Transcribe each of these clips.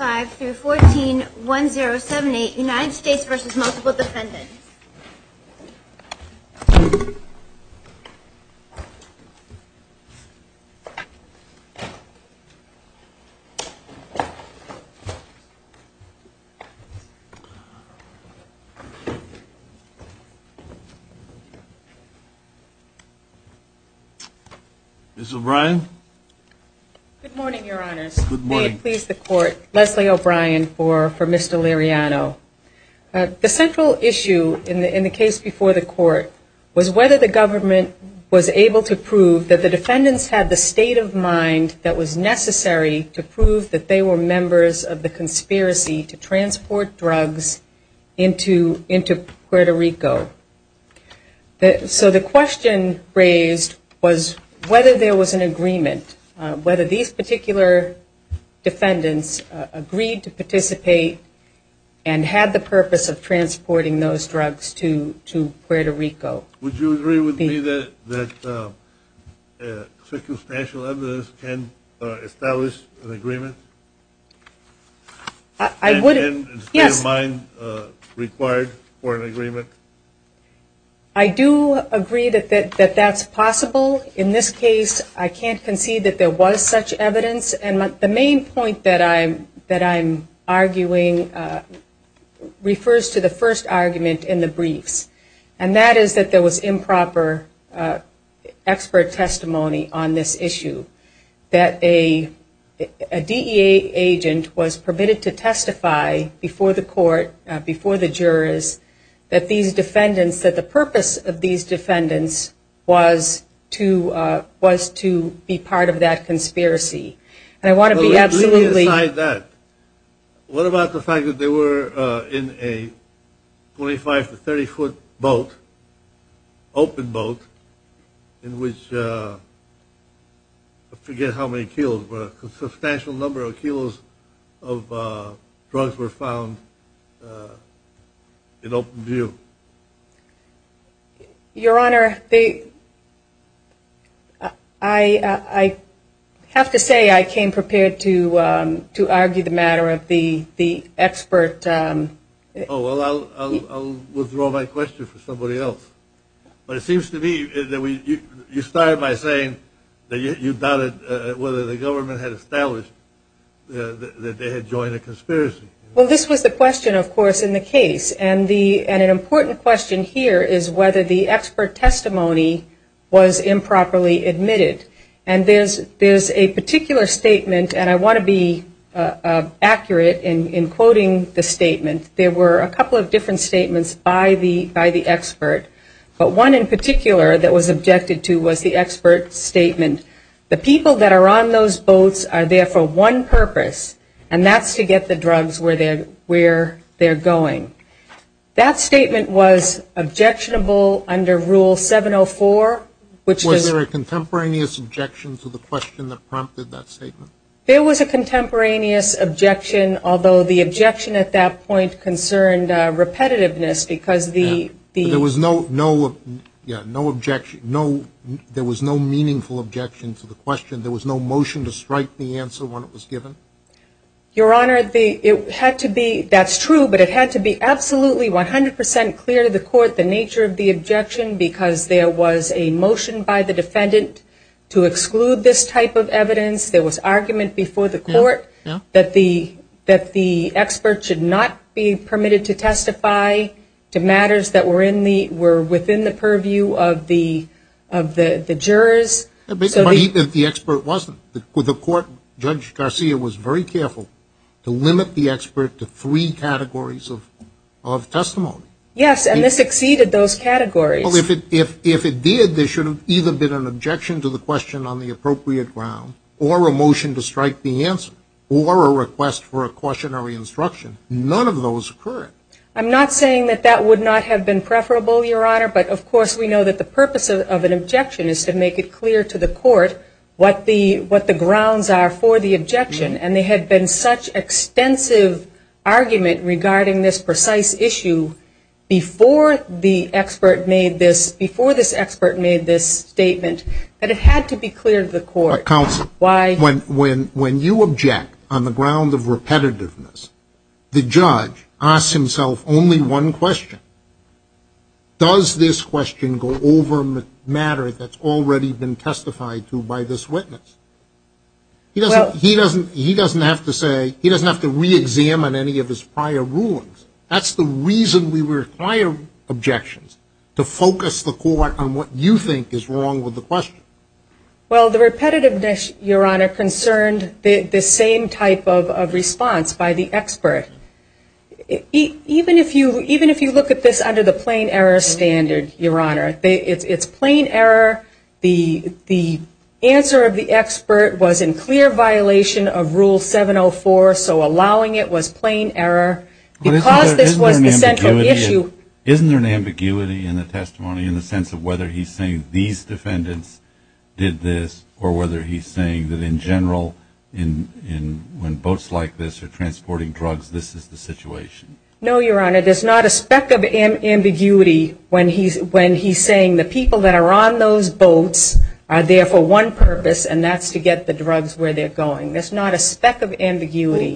5-14-1078 United States v. Multiple Dependents Ms. O'Brien Good morning, your honors. May it please the court, Leslie O'Brien for Mr. Liriano. The central issue in the case before the court was whether the government was able to prove that the defendants had the state of mind that was necessary to prove that they were members of the conspiracy to transport drugs into Puerto Rico. So the question raised was whether there was an agreement, whether these particular defendants agreed to participate and had the purpose of transporting those drugs to Puerto Rico. Would you agree with me that circumstantial evidence can establish an agreement? I would, yes. And state of mind required for an agreement? I do agree that that's possible. In this case, I can't concede that there was such evidence. And the main point that I'm arguing refers to the first argument in the briefs. And that is that there was improper expert testimony on this issue. That a DEA agent was permitted to testify before the court, before the jurors, that these defendants, that the purpose of these defendants was to be part of that conspiracy. And I want to be absolutely Well, let's leave aside that. What about the fact that they were in a 25 to 30 foot boat, open boat, in which, I forget how many kilos, but a substantial number of kilos of drugs were found in open view? Your Honor, I have to say I came prepared to argue the matter of the expert Oh, well, I'll withdraw my question for somebody else. But it seems to me that you started by saying that you doubted whether the government had established that they had joined a conspiracy. Well, this was the question, of course, in the case. And an important question here is whether the expert testimony was improperly admitted. And there's a particular statement, and I want to be There were a couple of different statements by the expert. But one in particular that was objected to was the expert statement, the people that are on those boats are there for one purpose, and that's to get the drugs where they're going. That statement was objectionable under Rule 704. Was there a contemporaneous objection to the question that prompted that statement? There was a contemporaneous objection, although the objection at that point concerned repetitiveness because the There was no meaningful objection to the question. There was no motion to strike the answer when it was given? Your Honor, it had to be, that's true, but it had to be absolutely 100 percent clear to the court the nature of the objection because there was a motion by the defendant to exclude this type of evidence. There was argument before the court that the expert should not be permitted to testify to matters that were within the purview of the jurors. But even if the expert wasn't, the court, Judge Garcia was very careful to limit the expert to three categories of testimony. Yes, and this exceeded those categories. Well, if it did, there should have either been an objection to the question on the appropriate ground, or a motion to strike the answer, or a request for a cautionary instruction. None of those occurred. I'm not saying that that would not have been preferable, Your Honor, but of course we know that the purpose of an objection is to make it clear to the court what the grounds are for the objection, and there had been such extensive argument regarding this precise issue before the expert made this statement that it had to be clear to the court. Counsel, when you object on the ground of repetitiveness, the judge asks himself only one question. Does this question go over matter that's already been testified to by this witness? He doesn't have to say, he doesn't have to re-examine any of his prior rulings. That's the reason we require objections, to focus the court on what you think is wrong with the question. Well, the repetitiveness, Your Honor, concerned the same type of response by the expert. Even if you look at this under the plain error standard, Your Honor, it's plain error. The answer of the expert was in clear violation of Rule 704, so allowing it was plain error. Because this was the central issue. Isn't there an ambiguity in the testimony in the sense of whether he's saying these defendants did this, or whether he's saying that in general, when boats like this are transporting drugs, this is the situation? No, Your Honor, there's not a speck of ambiguity when he's saying the people that are on those boats are there for one purpose, and that's to get the drugs where they're going. There's not a speck of ambiguity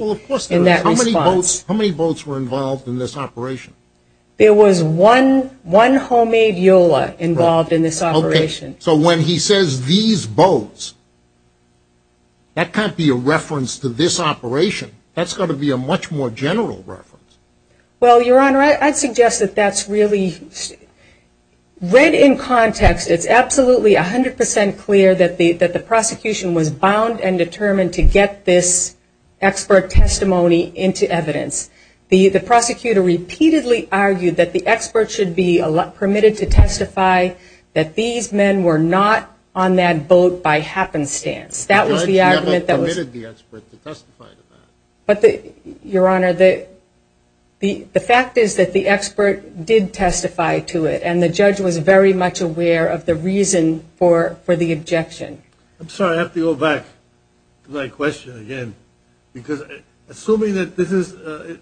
in that response. How many boats were involved in this operation? There was one homemade EULA involved in this operation. So when he says these boats, that can't be a reference to this operation. That's got to be a much more general reference. Well, Your Honor, I'd suggest that that's really read in context. It's absolutely 100% clear that the prosecution was bound and determined to get this expert testimony into evidence. The prosecutor repeatedly argued that the expert should be permitted to testify that these men were not on that boat by happenstance. That was the argument that was... The judge never permitted the expert to testify to that. But Your Honor, the fact is that the expert did testify to it, and the judge was very much aware of the reason for the objection. I'm sorry, I have to go back to my question again, because assuming that this is...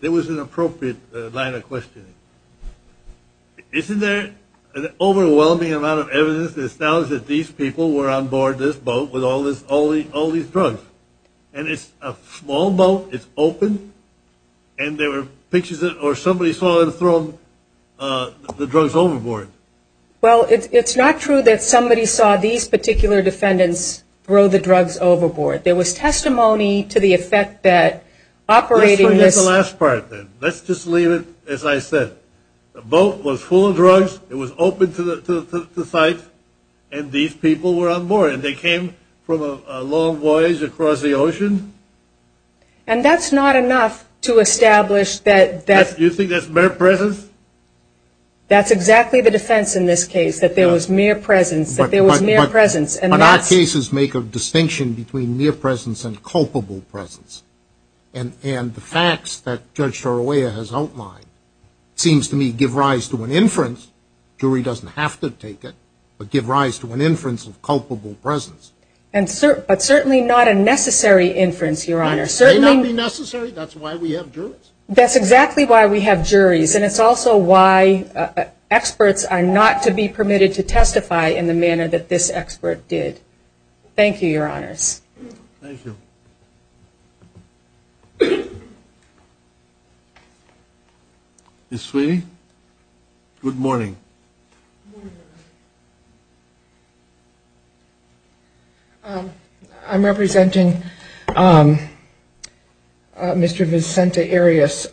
It was an appropriate line of questioning. Isn't there an overwhelming amount of evidence that acknowledges that these people were on board this boat with all these drugs? And it's a small boat, it's open, and there were pictures or somebody saw them throw the drugs overboard. Well, it's not true that somebody saw these particular defendants throw the drugs overboard. There was testimony to the effect that operating this... The boat was full of drugs, it was open to the sight, and these people were on board. And they came from a long voyage across the ocean. And that's not enough to establish that... You think that's mere presence? That's exactly the defense in this case, that there was mere presence, that there was mere presence. But our cases make a distinction between mere presence and culpable presence. And the facts that Judge Sorolla has outlined seems to me give rise to an inference. Jury doesn't have to take it, but give rise to an inference of culpable presence. But certainly not a necessary inference, Your Honor. It may not be necessary, that's why we have juries. That's exactly why we have juries, and it's also why experts are not to be permitted to testify in the manner that this expert did. Thank you, Your Honors. Thank you. Ms. Sweeney, good morning. I'm representing Mr. Vincente Arias.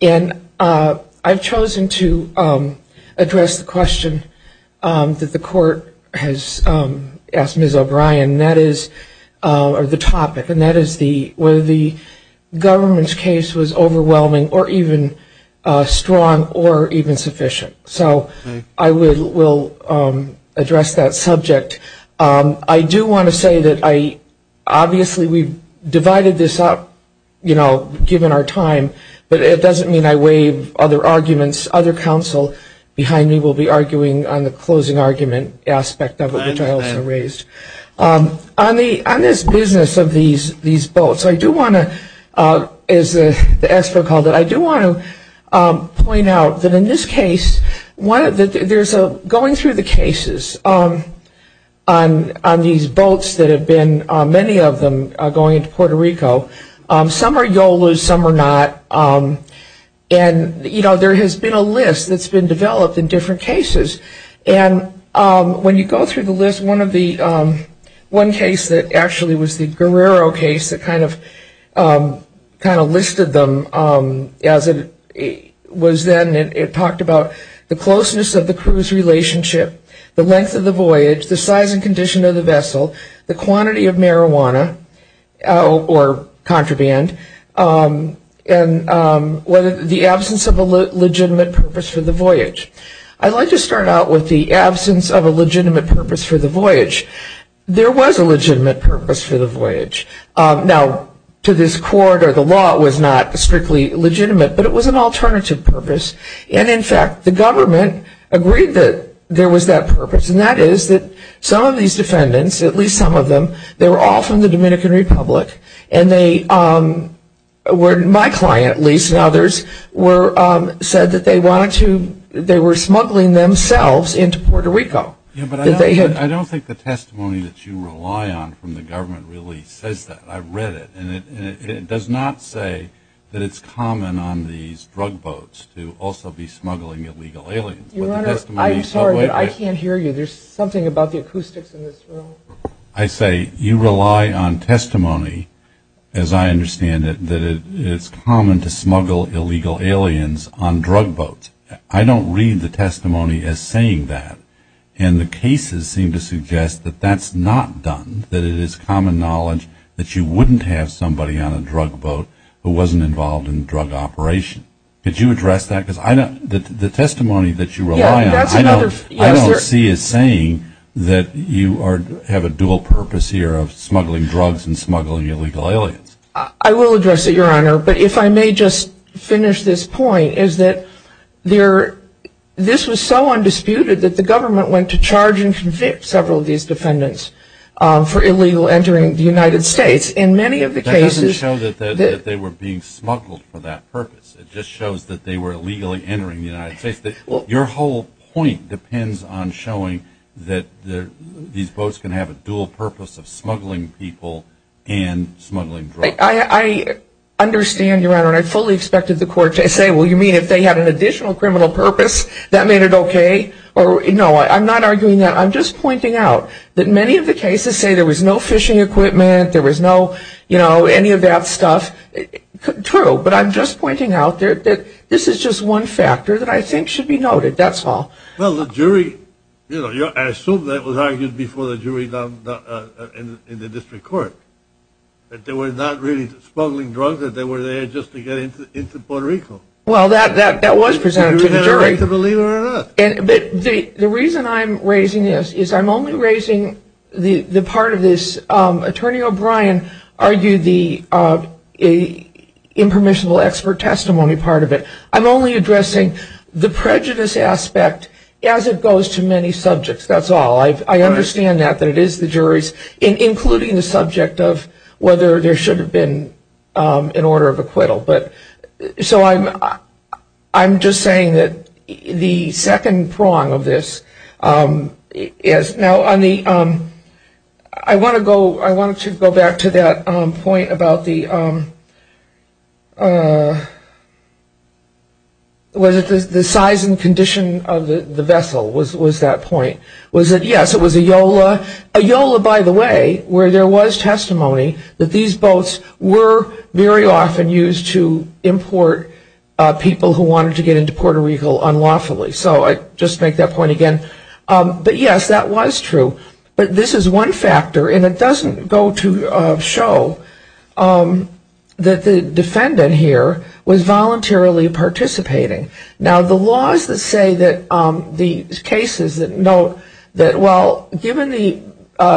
And I've chosen to address the question that the court has asked Ms. O'Brien. And that is, or the topic, and that is whether the government's case was overwhelming or even strong or even sufficient. So I will address that subject. I do want to say that I, obviously we've divided this up, you know, given our time. But it doesn't mean I waive other arguments. Other counsel behind me will be arguing on the closing argument aspect of it, which I also raised. On this business of these votes, I do want to, as the expert called it, I do want to point out that in this case, there's a, going through the cases on these votes that have been, many of them are going into Puerto Rico, some are YOLOs, some are not. And, you know, there has been a list that's been developed in different cases. And when you go through the list, one of the, one case that actually was the Guerrero case that kind of, kind of listed them as it was then, it talked about the closeness of the cruise relationship, the length of the voyage, the size and condition of the vessel, the quantity of marijuana or contraband, and whether the absence of a legitimate purpose for the voyage. I'd like to start out with the absence of a legitimate purpose for the voyage. There was a legitimate purpose for the voyage. Now, to this court or the law, it was not strictly legitimate, but it was an alternative purpose. And in fact, the government agreed that there was that purpose. And that is that some of these defendants, at least some of them, they were all from the Dominican Republic. And they were, my client, at least, and others were, said that they wanted to, they were smuggling themselves into Puerto Rico. Yeah, but I don't think the testimony that you rely on from the government really says that. I read it. And it does not say that it's common on these drug boats to also be smuggling illegal aliens. Your Honor, I'm sorry, but I can't hear you. There's something about the acoustics in this room. I say you rely on testimony, as I understand it, that it's common to smuggle illegal aliens on drug boats. I don't read the testimony as saying that. And the cases seem to suggest that that's not done, that it is common knowledge that you wouldn't have somebody on a drug boat who wasn't involved in drug operation. Could you address that? Because I don't, the testimony that you rely on, I don't see as saying that you have a dual purpose here of smuggling drugs and smuggling illegal aliens. I will address it, Your Honor. But if I may just finish this point, is that there, this was so undisputed that the government went to charge and convict several of these defendants for illegal entering the United States. In many of the cases... That doesn't show that they were being smuggled for that purpose. It just shows that they were illegally entering the United States. Your whole point depends on showing that these boats can have a dual purpose of smuggling people and smuggling drugs. I understand, Your Honor. I fully expected the court to say, well, you mean if they had an additional criminal purpose, that made it okay? No, I'm not arguing that. I'm just pointing out that many of the cases say there was no fishing equipment, there was no, you know, any of that stuff. True, but I'm just pointing out that this is just one factor that I think should be noted. That's all. Well, the jury, you know, I assume that was argued before the jury in the district court. That they were not really smuggling drugs, that they were there just to get into Puerto Rico. Well, that was presented to the jury. Believe it or not. The reason I'm raising this is I'm only raising the part of this, Attorney O'Brien argued the impermissible expert testimony part of it. I'm only addressing the prejudice aspect as it goes to many subjects. That's all. I understand that, that it is the jury's, including the subject of whether there should have been an order of acquittal. But, so I'm just saying that the second prong of this is, now on the, I want to go back to that point about the, was it the size and condition of the vessel was that point. Was it, yes, it was a Yola. A Yola, by the way, where there was testimony that these boats were very often used to import people who wanted to get into Puerto Rico unlawfully. So I just make that point again. But yes, that was true. But this is one factor, and it doesn't go to show that the defendant here was voluntarily participating. Now, the laws that say that the cases that note that, well, given the,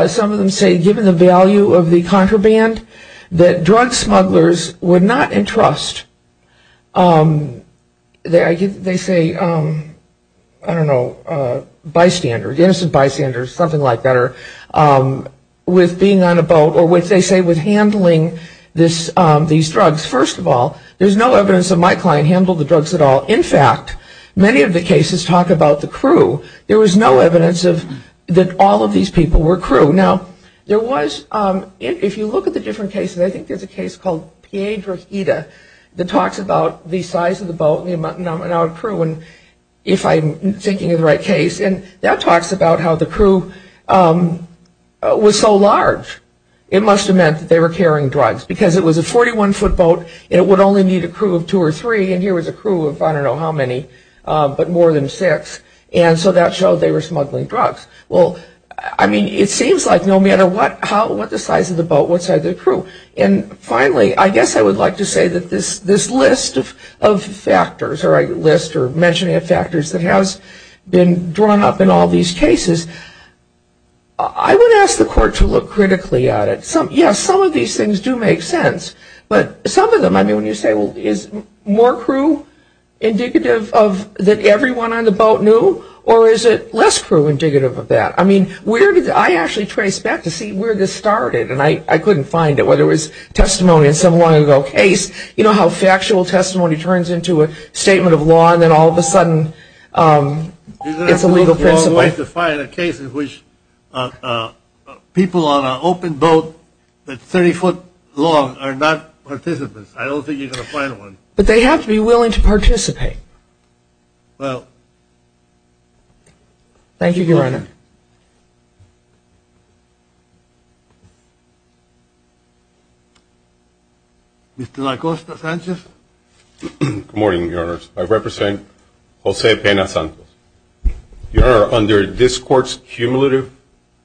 some of them say given the value of the contraband, that drug smugglers would not entrust, they say, I don't know, bystanders, innocent bystanders, something like that, or with being on a boat, or what they say with handling these drugs. First of all, there's no evidence that my client handled the drugs at all. In fact, many of the cases talk about the crew. There was no evidence that all of these people were crew. Now, there was, if you look at the different cases, and I think there's a case called Piedrahita that talks about the size of the boat and the amount of crew, and if I'm thinking of the right case, and that talks about how the crew was so large. It must have meant that they were carrying drugs, because it was a 41-foot boat, and it would only need a crew of two or three, and here was a crew of, I don't know how many, but more than six. And so that showed they were smuggling drugs. Well, I mean, it seems like no matter what, what the size of the boat, what size of the crew. And finally, I guess I would like to say that this list of factors, or a list or mentioning of factors that has been drawn up in all these cases, I would ask the court to look critically at it. Yes, some of these things do make sense, but some of them, I mean, when you say, well, is more crew indicative that everyone on the boat knew, or is it less crew indicative of that? I mean, I actually traced back to see where this started, and I couldn't find it, whether it was testimony in some long-ago case. You know how factual testimony turns into a statement of law, and then all of a sudden it's a legal principle? You're going to have to go as far as to find a case in which people on an open boat that's 30-foot long are not participants. I don't think you're going to find one. But they have to be willing to participate. Well, thank you, Your Honor. Mr. LaCosta-Sanchez. Good morning, Your Honors. I represent Jose Pena-Santos. Your Honor, under this court's cumulative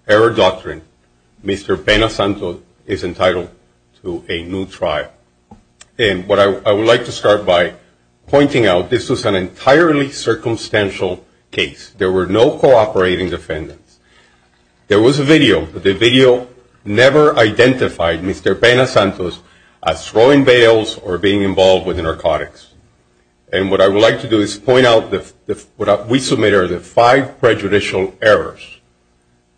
error doctrine, Mr. Pena-Santos is entitled to a new trial. And what I would like to start by pointing out, this was an entirely circumstantial case. There were no cooperating defendants. There was a video, but the video never identified Mr. Pena-Santos as throwing bales or being involved with narcotics. And what I would like to do is point out what we submitted are the five prejudicial errors,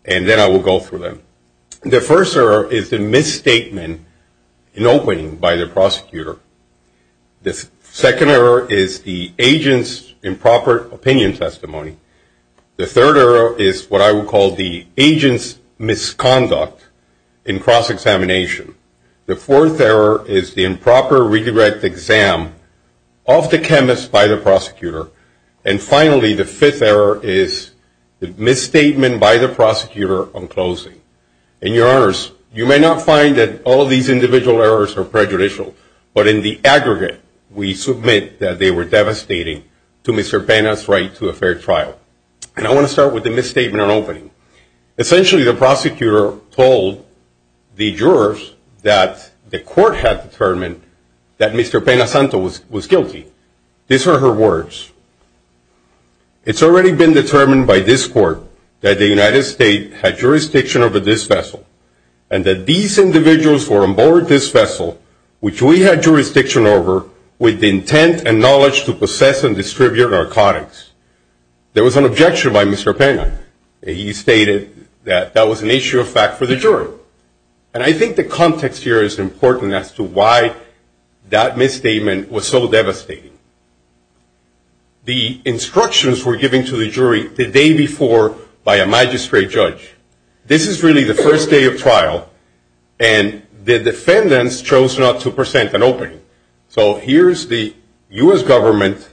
and then I will go through them. The first error is the misstatement in opening by the prosecutor. The second error is the agent's improper opinion testimony. The third error is what I would call the agent's misconduct in cross-examination. The fourth error is the improper redirect exam of the chemist by the prosecutor. And finally, the fifth error is the misstatement by the prosecutor on closing. And, Your Honors, you may not find that all of these individual errors are prejudicial, but in the aggregate, we submit that they were devastating to Mr. Pena's right to a fair trial. And I want to start with the misstatement on opening. Essentially, the prosecutor told the jurors that the court had determined that Mr. Pena-Santos was guilty. These are her words. It's already been determined by this court that the United States had jurisdiction over this vessel and that these individuals were on board this vessel, which we had jurisdiction over, with the intent and knowledge to possess and distribute narcotics. There was an objection by Mr. Pena. He stated that that was an issue of fact for the jury. And I think the context here is important as to why that misstatement was so devastating. The instructions were given to the jury the day before by a magistrate judge. This is really the first day of trial, and the defendants chose not to present an opening. So here's the U.S. government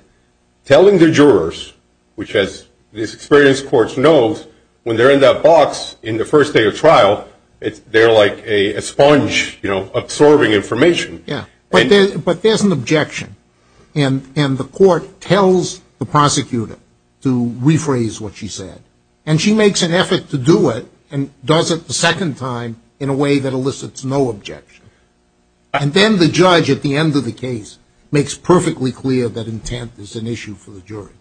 telling the jurors, which, as this experienced court knows, when they're in that box in the first day of trial, they're like a sponge absorbing information. But there's an objection, and the court tells the prosecutor to rephrase what she said. And she makes an effort to do it and does it the second time in a way that elicits no objection. And then the judge, at the end of the case, makes perfectly clear that intent is an issue for the jury.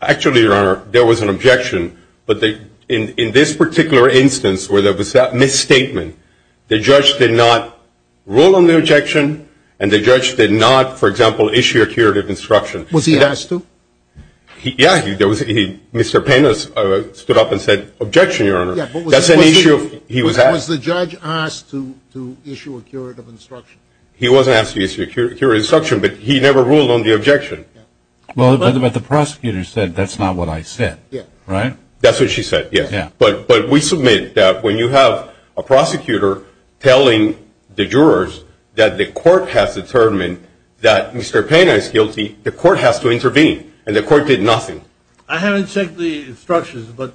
Actually, Your Honor, there was an objection, but in this particular instance where there was that misstatement, the judge did not rule on the objection, and the judge did not, for example, issue a curative instruction. Was he asked to? Yeah. Mr. Pena stood up and said, Objection, Your Honor. That's an issue. Was the judge asked to issue a curative instruction? He wasn't asked to issue a curative instruction, but he never ruled on the objection. But the prosecutor said that's not what I said, right? That's what she said, yes. But we submit that when you have a prosecutor telling the jurors that the court has determined that Mr. Pena is guilty, the court has to intervene, and the court did nothing. I haven't checked the instructions, but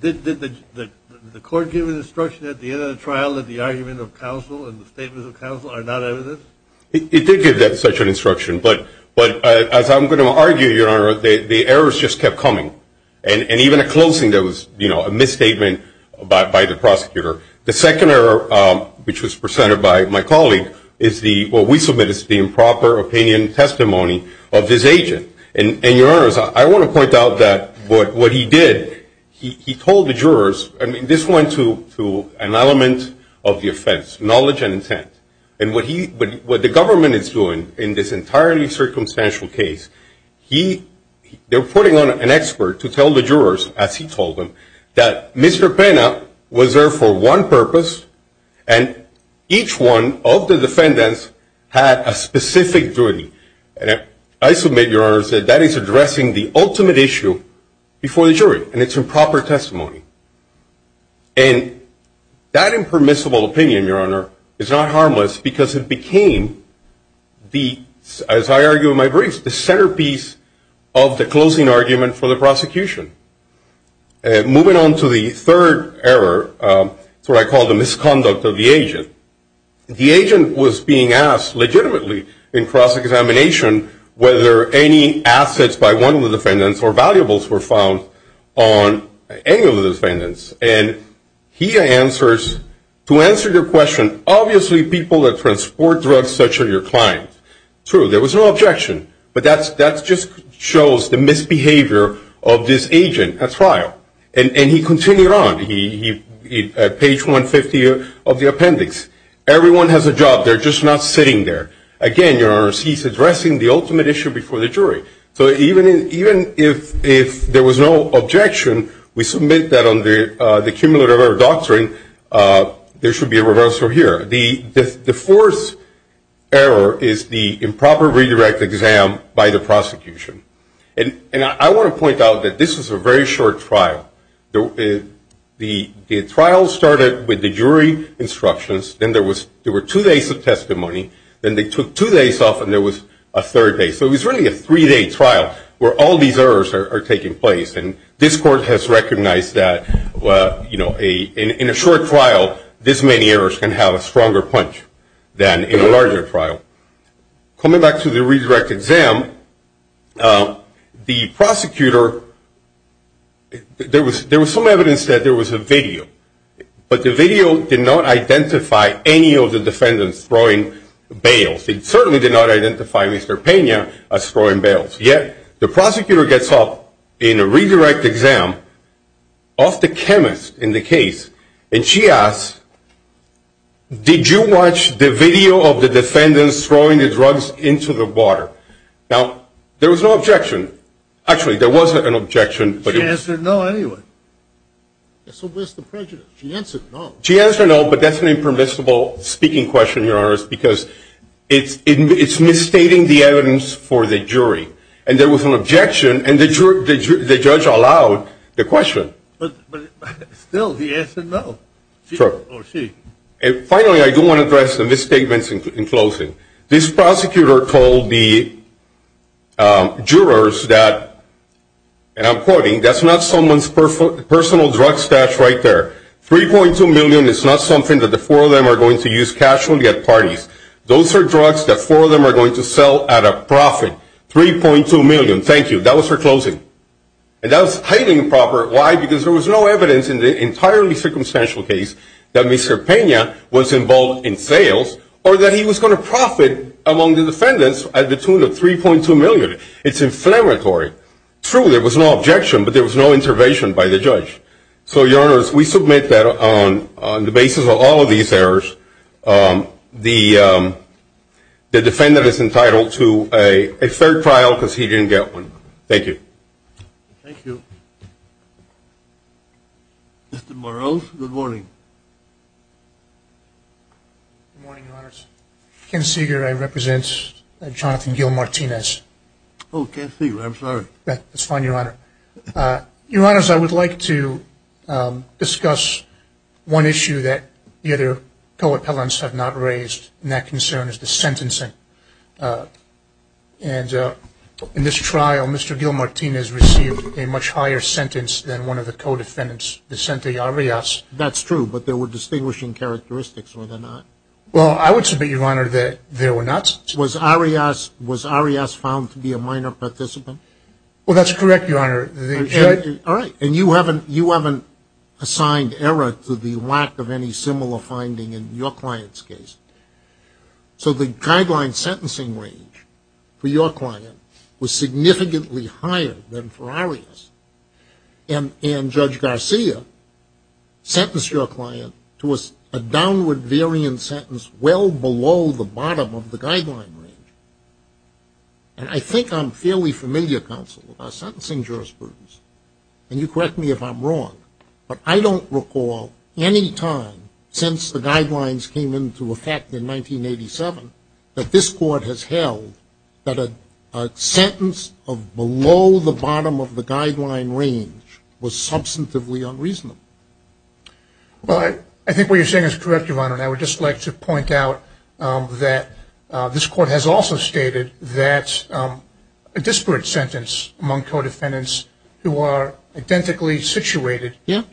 did the court give an instruction at the end of the trial that the argument of counsel and the statements of counsel are not evidence? It did give such an instruction, but as I'm going to argue, Your Honor, the errors just kept coming, and even a closing that was a misstatement by the prosecutor. The second error, which was presented by my colleague, is what we submit as the improper opinion testimony of this agent. And, Your Honors, I want to point out that what he did, he told the jurors. I mean, this went to an element of the offense, knowledge and intent. And what the government is doing in this entirely circumstantial case, they're putting on an expert to tell the jurors, as he told them, that Mr. Pena was there for one purpose, and each one of the defendants had a specific duty. And I submit, Your Honor, that that is addressing the ultimate issue before the jury, and it's improper testimony. And that impermissible opinion, Your Honor, is not harmless because it became the, as I argue in my brief, the centerpiece of the closing argument for the prosecution. Moving on to the third error, it's what I call the misconduct of the agent. The agent was being asked legitimately in cross-examination whether any assets by one of the defendants or valuables were found on any of the defendants. And he answers, to answer your question, obviously people that transport drugs such are your clients. True, there was no objection, but that just shows the misbehavior of this agent at trial. And he continued on. At page 150 of the appendix, everyone has a job, they're just not sitting there. Again, Your Honors, he's addressing the ultimate issue before the jury. So even if there was no objection, we submit that on the cumulative error doctrine, there should be a reversal here. The fourth error is the improper redirect exam by the prosecution. And I want to point out that this was a very short trial. The trial started with the jury instructions, then there were two days of testimony, then they took two days off, and there was a third day. So it was really a three-day trial where all these errors are taking place. And this court has recognized that in a short trial, this many errors can have a stronger punch than in a larger trial. Coming back to the redirect exam, the prosecutor, there was some evidence that there was a video, but the video did not identify any of the defendants throwing bales. It certainly did not identify Mr. Pena as throwing bales. Yet the prosecutor gets up in a redirect exam of the chemist in the case, and she asks, did you watch the video of the defendants throwing the drugs into the water? Now, there was no objection. Actually, there was an objection. She answered no anyway. So where's the prejudice? She answered no. She answered no, but that's an impermissible speaking question, Your Honor, because it's misstating the evidence for the jury. And there was an objection, and the judge allowed the question. But still, he answered no, or she. And finally, I do want to address the misstatements in closing. This prosecutor told the jurors that, and I'm quoting, that's not someone's personal drug stash right there. $3.2 million is not something that the four of them are going to use casually at parties. Those are drugs that four of them are going to sell at a profit. $3.2 million. Thank you. That was her closing. And that was highly improper. Why? Because there was no evidence in the entirely circumstantial case that Mr. Pena was involved in sales or that he was going to profit among the defendants at the tune of $3.2 million. True, there was no objection, but there was no intervention by the judge. So, Your Honors, we submit that on the basis of all of these errors, the defendant is entitled to a third trial because he didn't get one. Thank you. Thank you. Mr. Morales, good morning. Good morning, Your Honors. Ken Seeger, I represent Jonathan Gil Martinez. Oh, Ken Seeger, I'm sorry. That's fine, Your Honor. Your Honors, I would like to discuss one issue that the other co-appellants have not raised, and that concern is the sentencing. And in this trial, Mr. Gil Martinez received a much higher sentence than one of the co-defendants, Vicente Arias. That's true, but there were distinguishing characteristics, were there not? Well, I would submit, Your Honor, that there were not. Was Arias found to be a minor participant? Well, that's correct, Your Honor. All right. And you haven't assigned error to the lack of any similar finding in your client's case. So the guideline sentencing range for your client was significantly higher than for Arias, and Judge Garcia sentenced your client to a downward variant sentence well below the bottom of the guideline range. And I think I'm fairly familiar, counsel, with our sentencing jurisprudence. And you correct me if I'm wrong, but I don't recall any time since the guidelines came into effect in 1987 that this Court has held that a sentence of below the bottom of the guideline range was substantively unreasonable. Well, I think what you're saying is correct, Your Honor, and I would just like to point out that this Court has also stated that a disparate sentence among co-defendants who are identically situated. Yes.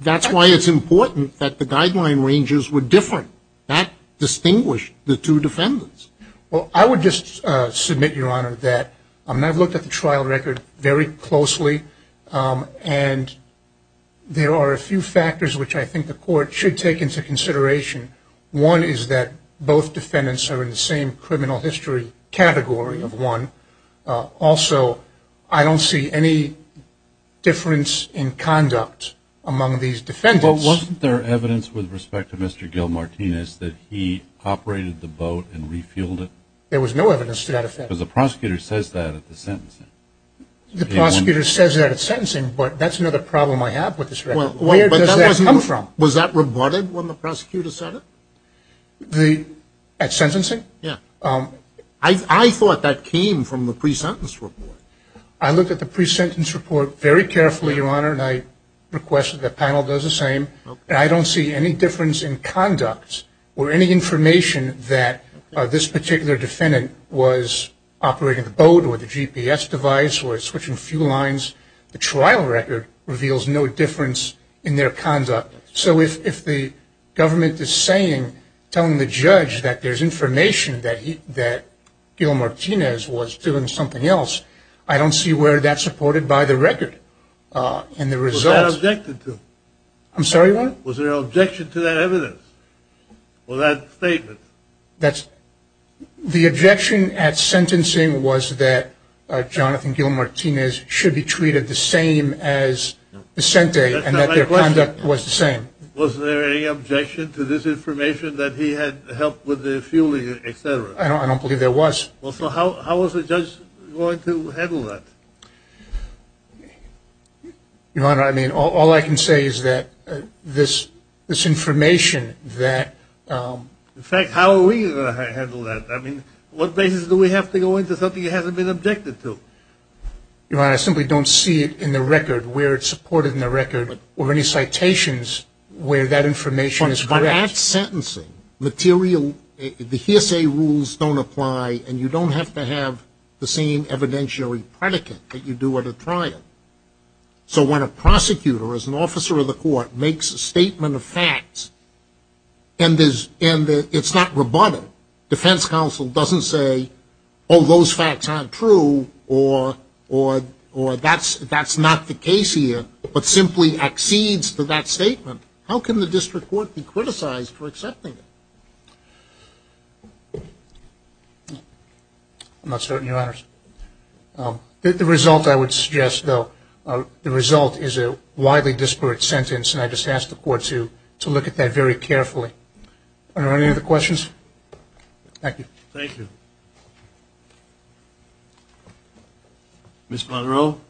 That's why it's important that the guideline ranges were different. That distinguished the two defendants. Well, I would just submit, Your Honor, that I've looked at the trial record very closely, and there are a few factors which I think the Court should take into consideration. One is that both defendants are in the same criminal history category of one. Also, I don't see any difference in conduct among these defendants. But wasn't there evidence with respect to Mr. Gil Martinez that he operated the boat and refueled it? There was no evidence to that effect. Because the prosecutor says that at the sentencing. The prosecutor says that at sentencing, but that's another problem I have with this record. Where does that come from? Was that reported when the prosecutor said it? At sentencing? Yes. I thought that came from the pre-sentence report. I looked at the pre-sentence report very carefully, Your Honor, and I request that the panel does the same. I don't see any difference in conduct or any information that this particular defendant was operating the boat with a GPS device or switching fuel lines. The trial record reveals no difference in their conduct. So if the government is saying, telling the judge that there's information that Gil Martinez was doing something else, I don't see where that's supported by the record. Was that objected to? I'm sorry, Your Honor? Was there an objection to that evidence or that statement? The objection at sentencing was that Jonathan Gil Martinez should be treated the same as Vicente and that their conduct was the same. Was there any objection to this information that he had helped with the fueling, et cetera? I don't believe there was. Well, so how was the judge going to handle that? Your Honor, I mean, all I can say is that this information that In fact, how are we going to handle that? I mean, what basis do we have to go into something that hasn't been objected to? Your Honor, I simply don't see it in the record where it's supported in the record or any citations where that information is correct. But at sentencing, the hearsay rules don't apply, and you don't have to have the same evidentiary predicate that you do at a trial. So when a prosecutor as an officer of the court makes a statement of facts and it's not rebutted, defense counsel doesn't say, oh, those facts aren't true or that's not the case here, but simply accedes to that statement, how can the district court be criticized for accepting it? I'm not certain, Your Honors. The result, I would suggest, though, the result is a widely disparate sentence, and I just ask the court to look at that very carefully. Are there any other questions? Thank you. Thank you. Ms. Monroe,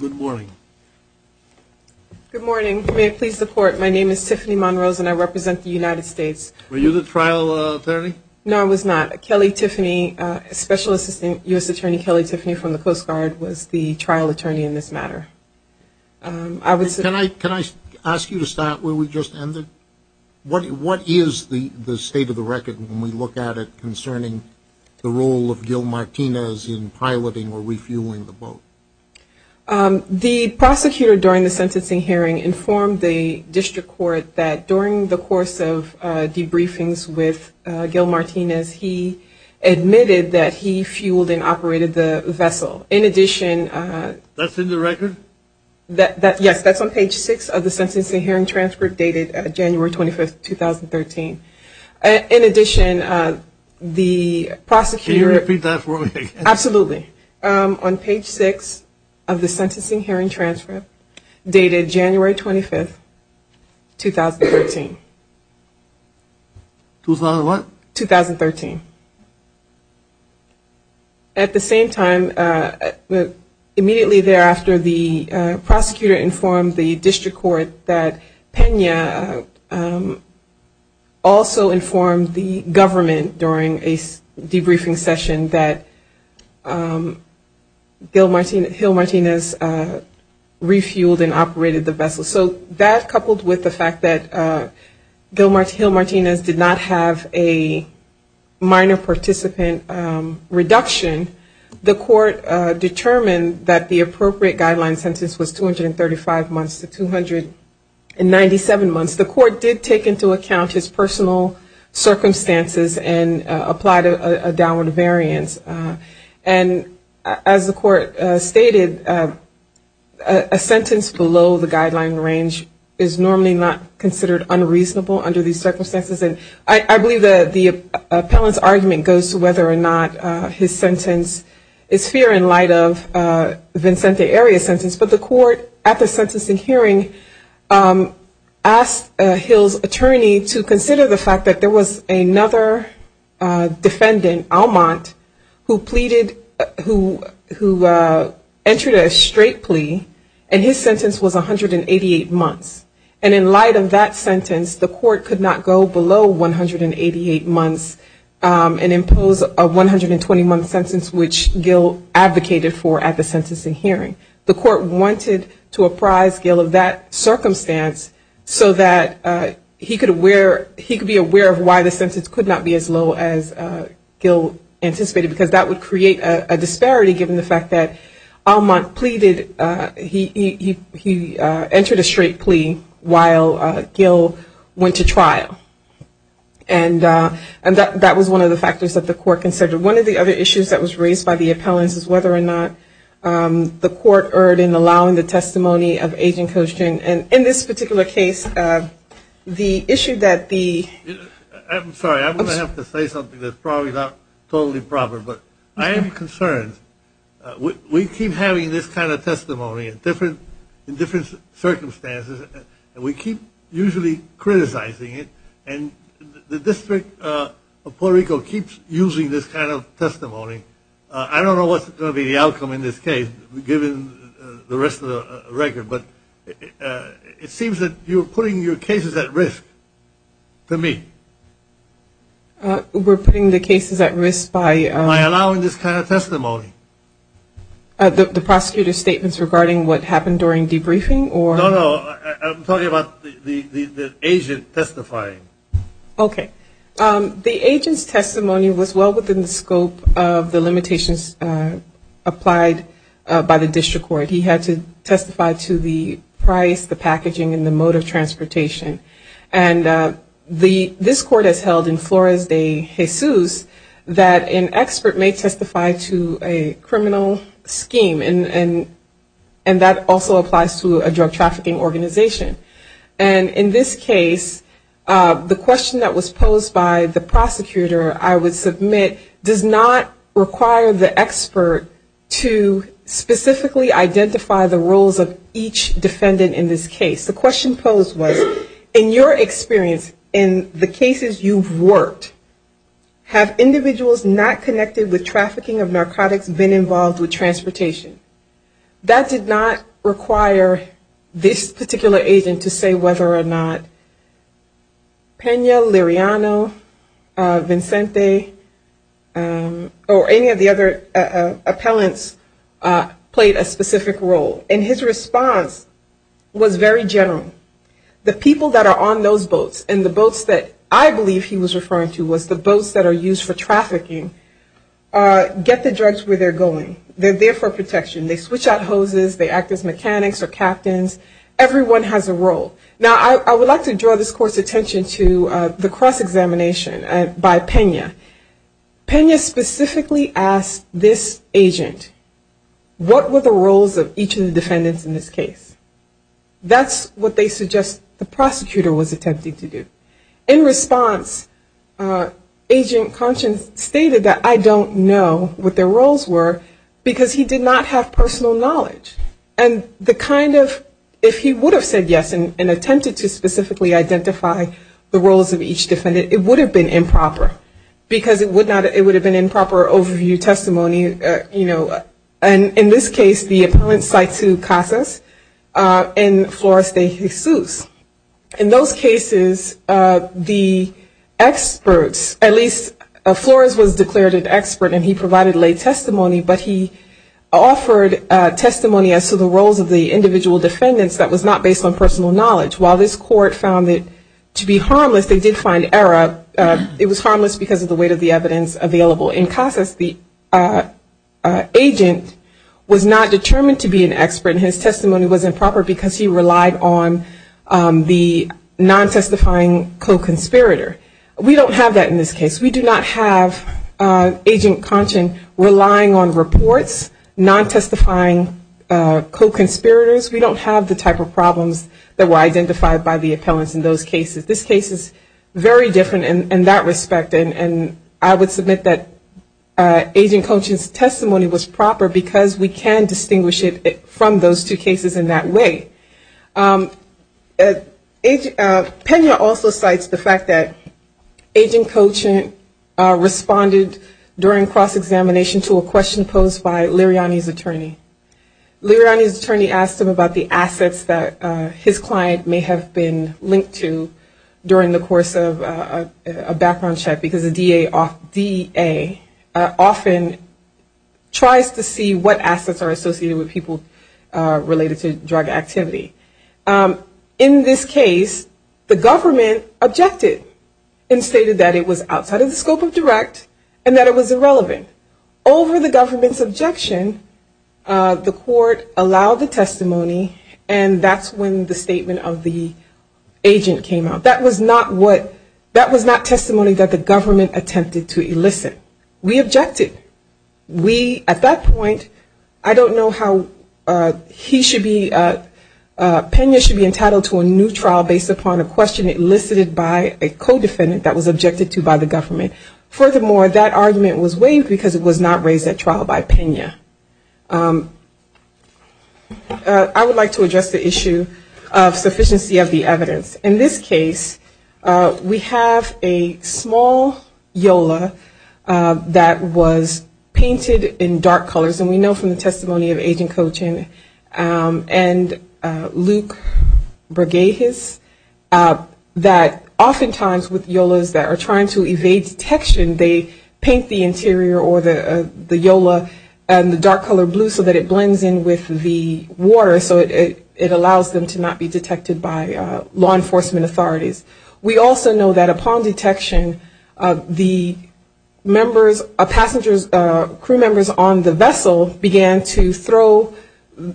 good morning. Good morning. May it please the Court, my name is Tiffany Monroe, and I represent the United States. Were you the trial attorney? No, I was not. Kelly Tiffany, Special Assistant U.S. Attorney Kelly Tiffany from the Coast Guard, was the trial attorney in this matter. Can I ask you to start where we just ended? What is the state of the record when we look at it concerning the role of Gil Martinez in piloting or refueling the boat? The prosecutor during the sentencing hearing informed the district court that during the course of debriefings with Gil Martinez, he admitted that he fueled and operated the vessel. In addition... That's in the record? Yes, that's on page six of the sentencing hearing transfer dated January 25, 2013. In addition, the prosecutor... Can you repeat that for me again? Absolutely. On page six of the sentencing hearing transfer dated January 25, 2013. What? 2013. At the same time, immediately thereafter, the prosecutor informed the district court that Pena also informed the government during a debriefing session that Gil Martinez refueled and operated the vessel. So that coupled with the fact that Gil Martinez did not have a minor participant reduction, the court determined that the appropriate guideline sentence was 235 months to 297 months. The court did take into account his personal circumstances and applied a downward variance. And as the court stated, a sentence below the guideline range is normally not considered unreasonable under these circumstances. I believe the appellant's argument goes to whether or not his sentence is fair in light of Vincente Arias' sentence. But the court at the sentencing hearing asked Gil's attorney to consider the fact that there was another defendant, who pleaded, who entered a straight plea, and his sentence was 188 months. And in light of that sentence, the court could not go below 188 months and impose a 120-month sentence, which Gil advocated for at the sentencing hearing. The court wanted to apprise Gil of that circumstance so that he could be aware of why the sentence could not be as low as Gil anticipated, because that would create a disparity given the fact that Almont pleaded, he entered a straight plea while Gil went to trial. And that was one of the factors that the court considered. One of the other issues that was raised by the appellants is whether or not the court erred in allowing the testimony of Agent Coach June. And in this particular case, the issue that the ---- that's probably not totally proper, but I am concerned. We keep having this kind of testimony in different circumstances, and we keep usually criticizing it, and the District of Puerto Rico keeps using this kind of testimony. I don't know what's going to be the outcome in this case, given the rest of the record, but it seems that you're putting your cases at risk to me. We're putting the cases at risk by By allowing this kind of testimony. The prosecutor's statements regarding what happened during debriefing? No, no, I'm talking about the agent testifying. Okay. The agent's testimony was well within the scope of the limitations applied by the district court. He had to testify to the price, the packaging, and the mode of transportation. And this court has held in Flores de Jesus that an expert may testify to a criminal scheme, and that also applies to a drug trafficking organization. And in this case, the question that was posed by the prosecutor, I would submit, does not require the expert to specifically identify the roles of each defendant in this case. The question posed was, in your experience, in the cases you've worked, have individuals not connected with trafficking of narcotics been involved with transportation? That did not require this particular agent to say whether or not Pena, Liriano, Vincente, or any of the other appellants played a specific role. And his response was very general. The people that are on those boats, and the boats that I believe he was referring to was the boats that are used for trafficking, get the drugs where they're going. They're there for protection. They switch out hoses, they act as mechanics or captains. Everyone has a role. Now, I would like to draw this court's attention to the cross-examination by Pena. Pena specifically asked this agent, what were the roles of each of the defendants in this case? That's what they suggest the prosecutor was attempting to do. In response, Agent Conscience stated that I don't know what their roles were, because he did not have personal knowledge. And the kind of, if he would have said yes and attempted to specifically identify the roles of each defendant, it would have been improper, because it would have been improper overview testimony. In this case, the appellant cited Casas and Flores de Jesus. In those cases, the experts, at least Flores was declared an expert and he provided late testimony, but he offered testimony as to the roles of the individual defendants that was not based on personal knowledge. While this court found it to be harmless, they did find error. It was harmless because of the weight of the evidence available. In Casas, the agent was not determined to be an expert and his testimony was improper, because he relied on the non-testifying co-conspirator. We don't have that in this case. We do not have Agent Conscience relying on reports, non-testifying co-conspirators. We don't have the type of problems that were identified by the appellants in those cases. This case is very different in that respect, and I would submit that Agent Conscience's testimony was proper, because we can distinguish it from those two cases in that way. Pena also cites the fact that Agent Cochin responded during cross-examination to a question posed by Liriani's attorney. Liriani's attorney asked him about the assets that his client may have been linked to during the course of a background check, because a DA often tries to see what assets are associated with people related to drug activity. In this case, the government objected and stated that it was outside of the scope of direct and that it was irrelevant. Over the government's objection, the court allowed the testimony, and that's when the statement of the agent came out. That was not testimony that the government attempted to elicit. We objected. At that point, I don't know how he should be, Pena should be entitled to a new trial based upon a question elicited by a co-defendant that was objected to by the government. Furthermore, that argument was waived because it was not raised at trial by Pena. I would like to address the issue of sufficiency of the evidence. In this case, we have a small YOLA that was painted in dark colors, and we know from the testimony of Agent Cochin and Luke Bregejes that oftentimes with YOLAs that are trying to evade detection, they paint the interior or the YOLA in the dark color blue so that it blends in with the water, so it allows them to not be detected by law enforcement. We also know that upon detection, the crew members on the vessel began to throw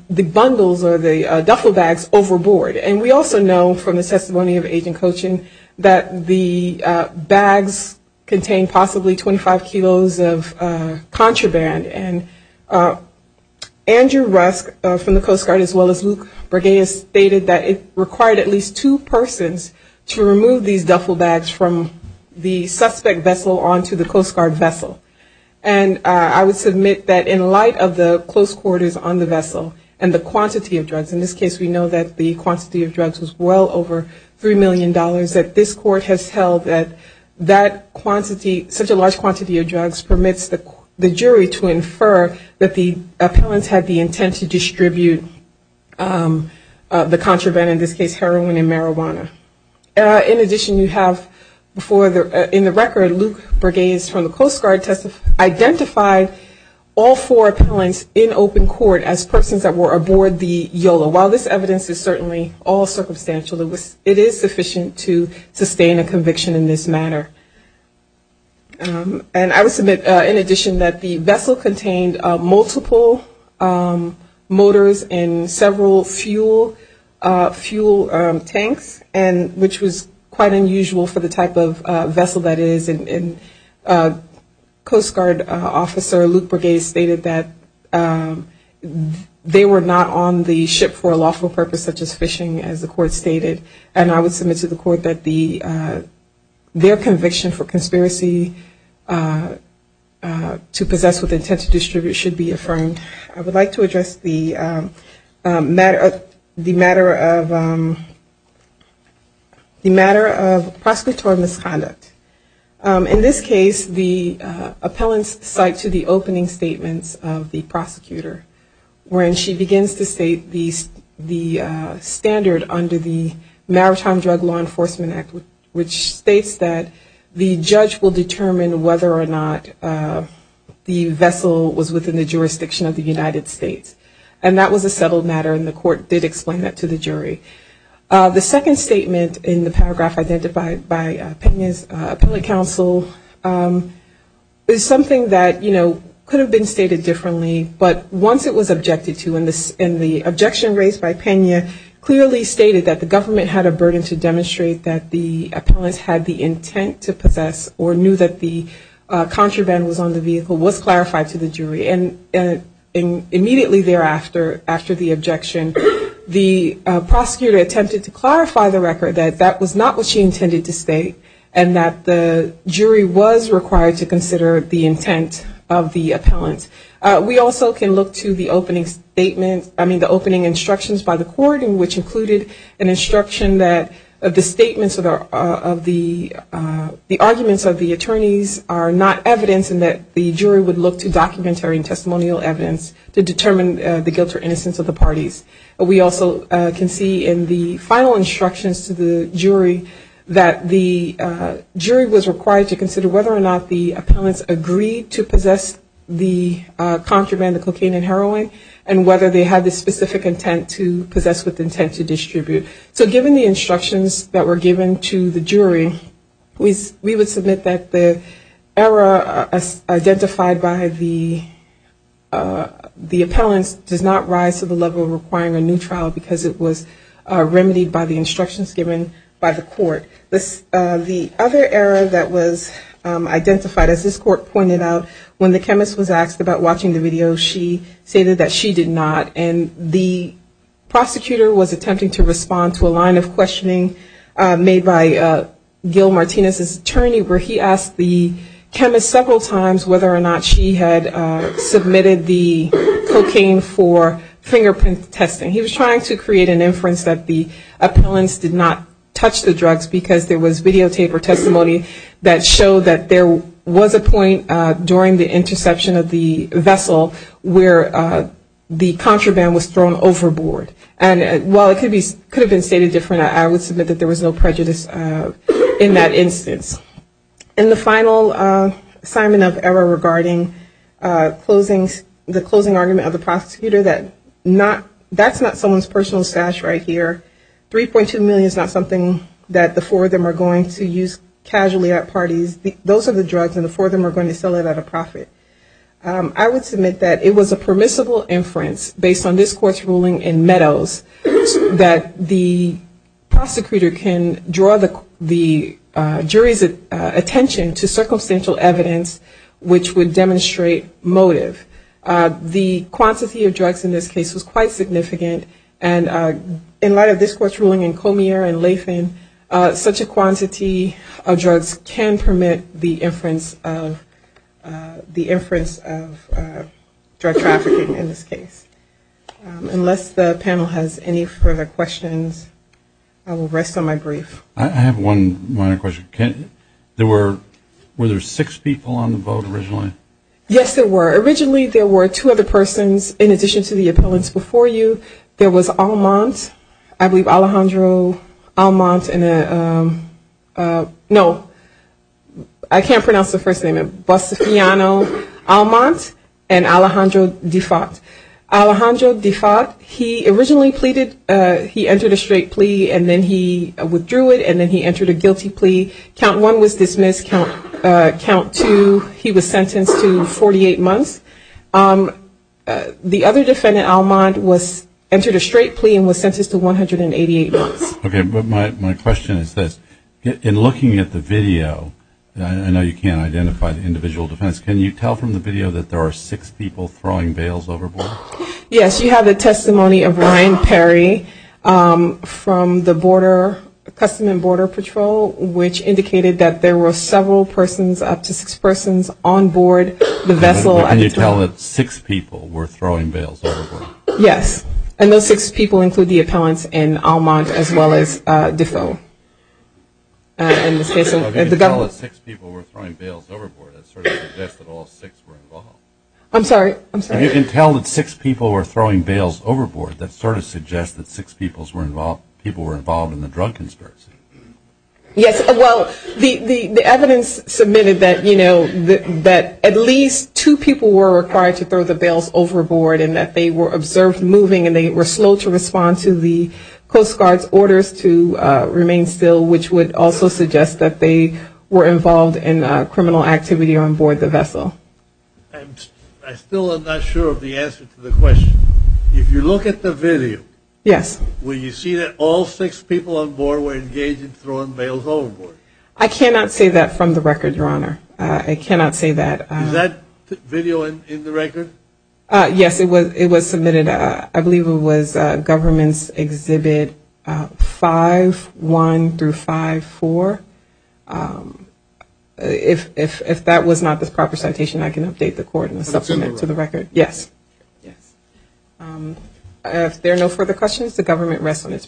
the bundles or the duffel bags overboard. And we also know from the testimony of Agent Cochin that the bags contained possibly 25 kilos of contraband, and Andrew Rusk from the Coast Guard as well as Luke Bregejes stated that it required at least two persons to remove these duffel bags from the suspect vessel onto the Coast Guard vessel. And I would submit that in light of the close quarters on the vessel and the quantity of drugs, in this case we know that the quantity of drugs was well over $3 million, that this court has held that that quantity, such a large quantity of drugs, permits the jury to infer that the appellants had the intent to distribute the contraband, in this case heroin and marijuana. In addition, you have in the record, Luke Bregejes from the Coast Guard identified all four appellants in open court as persons that were aboard the YOLA. While this evidence is certainly all circumstantial, it is sufficient to sustain a conviction in this matter. And I would submit in addition that the vessel contained multiple motors and several fuel tanks, which was quite unusual for the type of vessel that it is. And Coast Guard officer Luke Bregejes stated that they were not on the ship for a lawful purpose, such as fishing, as the court stated, and I would submit to the court that their conviction for conspiracy to possess with intent to distribute should be affirmed. I would like to address the matter of prosecutorial misconduct. In this case, the appellants cite to the opening statements of the prosecutor, where she begins to state the standard under the Maritime Drug Law Enforcement Act, which states that the judge will determine whether or not the vessel was within the jurisdiction of the United States. And that was a settled matter, and the court did explain that to the jury. The second statement in the paragraph identified by Pena's appellate counsel is something that, you know, could have been stated differently, but once it was objected to, and the objection raised by Pena clearly stated that the government had a burden to handle, immediately thereafter, after the objection, the prosecutor attempted to clarify the record that that was not what she intended to state, and that the jury was required to consider the intent of the appellant. We also can look to the opening statement, I mean the opening instructions by the court, which included an instruction that the statements of the, the arguments of the attorneys are not evidence, and that the jury would look to documentary and testimonial evidence to determine the guilt or innocence of the parties. We also can see in the final instructions to the jury that the jury was required to consider whether or not the appellants agreed to possess the contraband, the cocaine and heroin, and whether they had the specific intent to possess with intent to distribute. So given the instructions that were given to the jury, we would submit that the error identified by the jury was that the appellant does not rise to the level of requiring a new trial because it was remedied by the instructions given by the court. The other error that was identified, as this court pointed out, when the chemist was asked about watching the video, she stated that she did not, and the prosecutor was attempting to respond to a line of questioning made by Gil Martinez's attorney, where he asked the chemist several times whether or not she had submitted the cocaine for fingerprint testing. He was trying to create an inference that the appellants did not touch the drugs because there was videotape or testimony that showed that there was a point during the interception of the vessel where the contraband was thrown overboard. And while it could have been stated different, I would submit that there was no prejudice in that instance. And the final assignment of error regarding closing, the closing argument of the prosecutor that not, that's not someone's personal stash right here. 3.2 million is not something that the four of them are going to use casually at parties. Those are the drugs and the four of them are going to sell it at a profit. I would submit that it was a permissible inference based on this court's ruling in Meadows that the prosecutor can draw the jury's attention to circumstantial evidence which would demonstrate motive. The quantity of drugs in this case was quite significant, and in light of this court's ruling in Comier and Lathan, such a quantity of drugs can permit the inference of drug trafficking in this case. Unless the panel has any further questions, I will rest on my brief. I have one minor question. Were there six people on the vote originally? Yes, there were. Originally there were two other persons in addition to the appellants before you. There was Almont, I believe Alejandro Almont, no, I can't pronounce the first name, Bustafiano Almont, and Alejandro Defat. Alejandro Defat, he originally pleaded, he entered a straight plea and then he withdrew it. And then he entered a guilty plea, count one was dismissed, count two he was sentenced to 48 months. The other defendant, Almont, entered a straight plea and was sentenced to 188 months. Okay, but my question is this, in looking at the video, I know you can't identify the individual defendants, can you tell from the video that there are six people throwing veils overboard? Yes, you have the testimony of Ryan Perry from the border, Customs and Border Patrol, which indicated that there were several persons, up to six persons on board the vessel. Yes, and those six people include the appellants in Almont as well as Defo. In this case, the government. You can tell that six people were throwing veils overboard, that sort of suggests that six people were involved in the drug conspiracy. Yes, well, the evidence submitted that at least two people were required to throw the veils overboard and that they were observed moving and they were slow to respond to the Coast Guard's orders to remain calm. Yes, and they were not detained still, which would also suggest that they were involved in criminal activity on board the vessel. I still am not sure of the answer to the question. If you look at the video, will you see that all six people on board were engaged in throwing veils overboard? I cannot say that from the record, Your Honor, I cannot say that. Is that video in the record? Yes, it was submitted, I believe it was government's exhibit 5-1 through 5-4. If that was not the proper citation, I can update the court and supplement to the record. If there are no further questions, the government rests on its brief.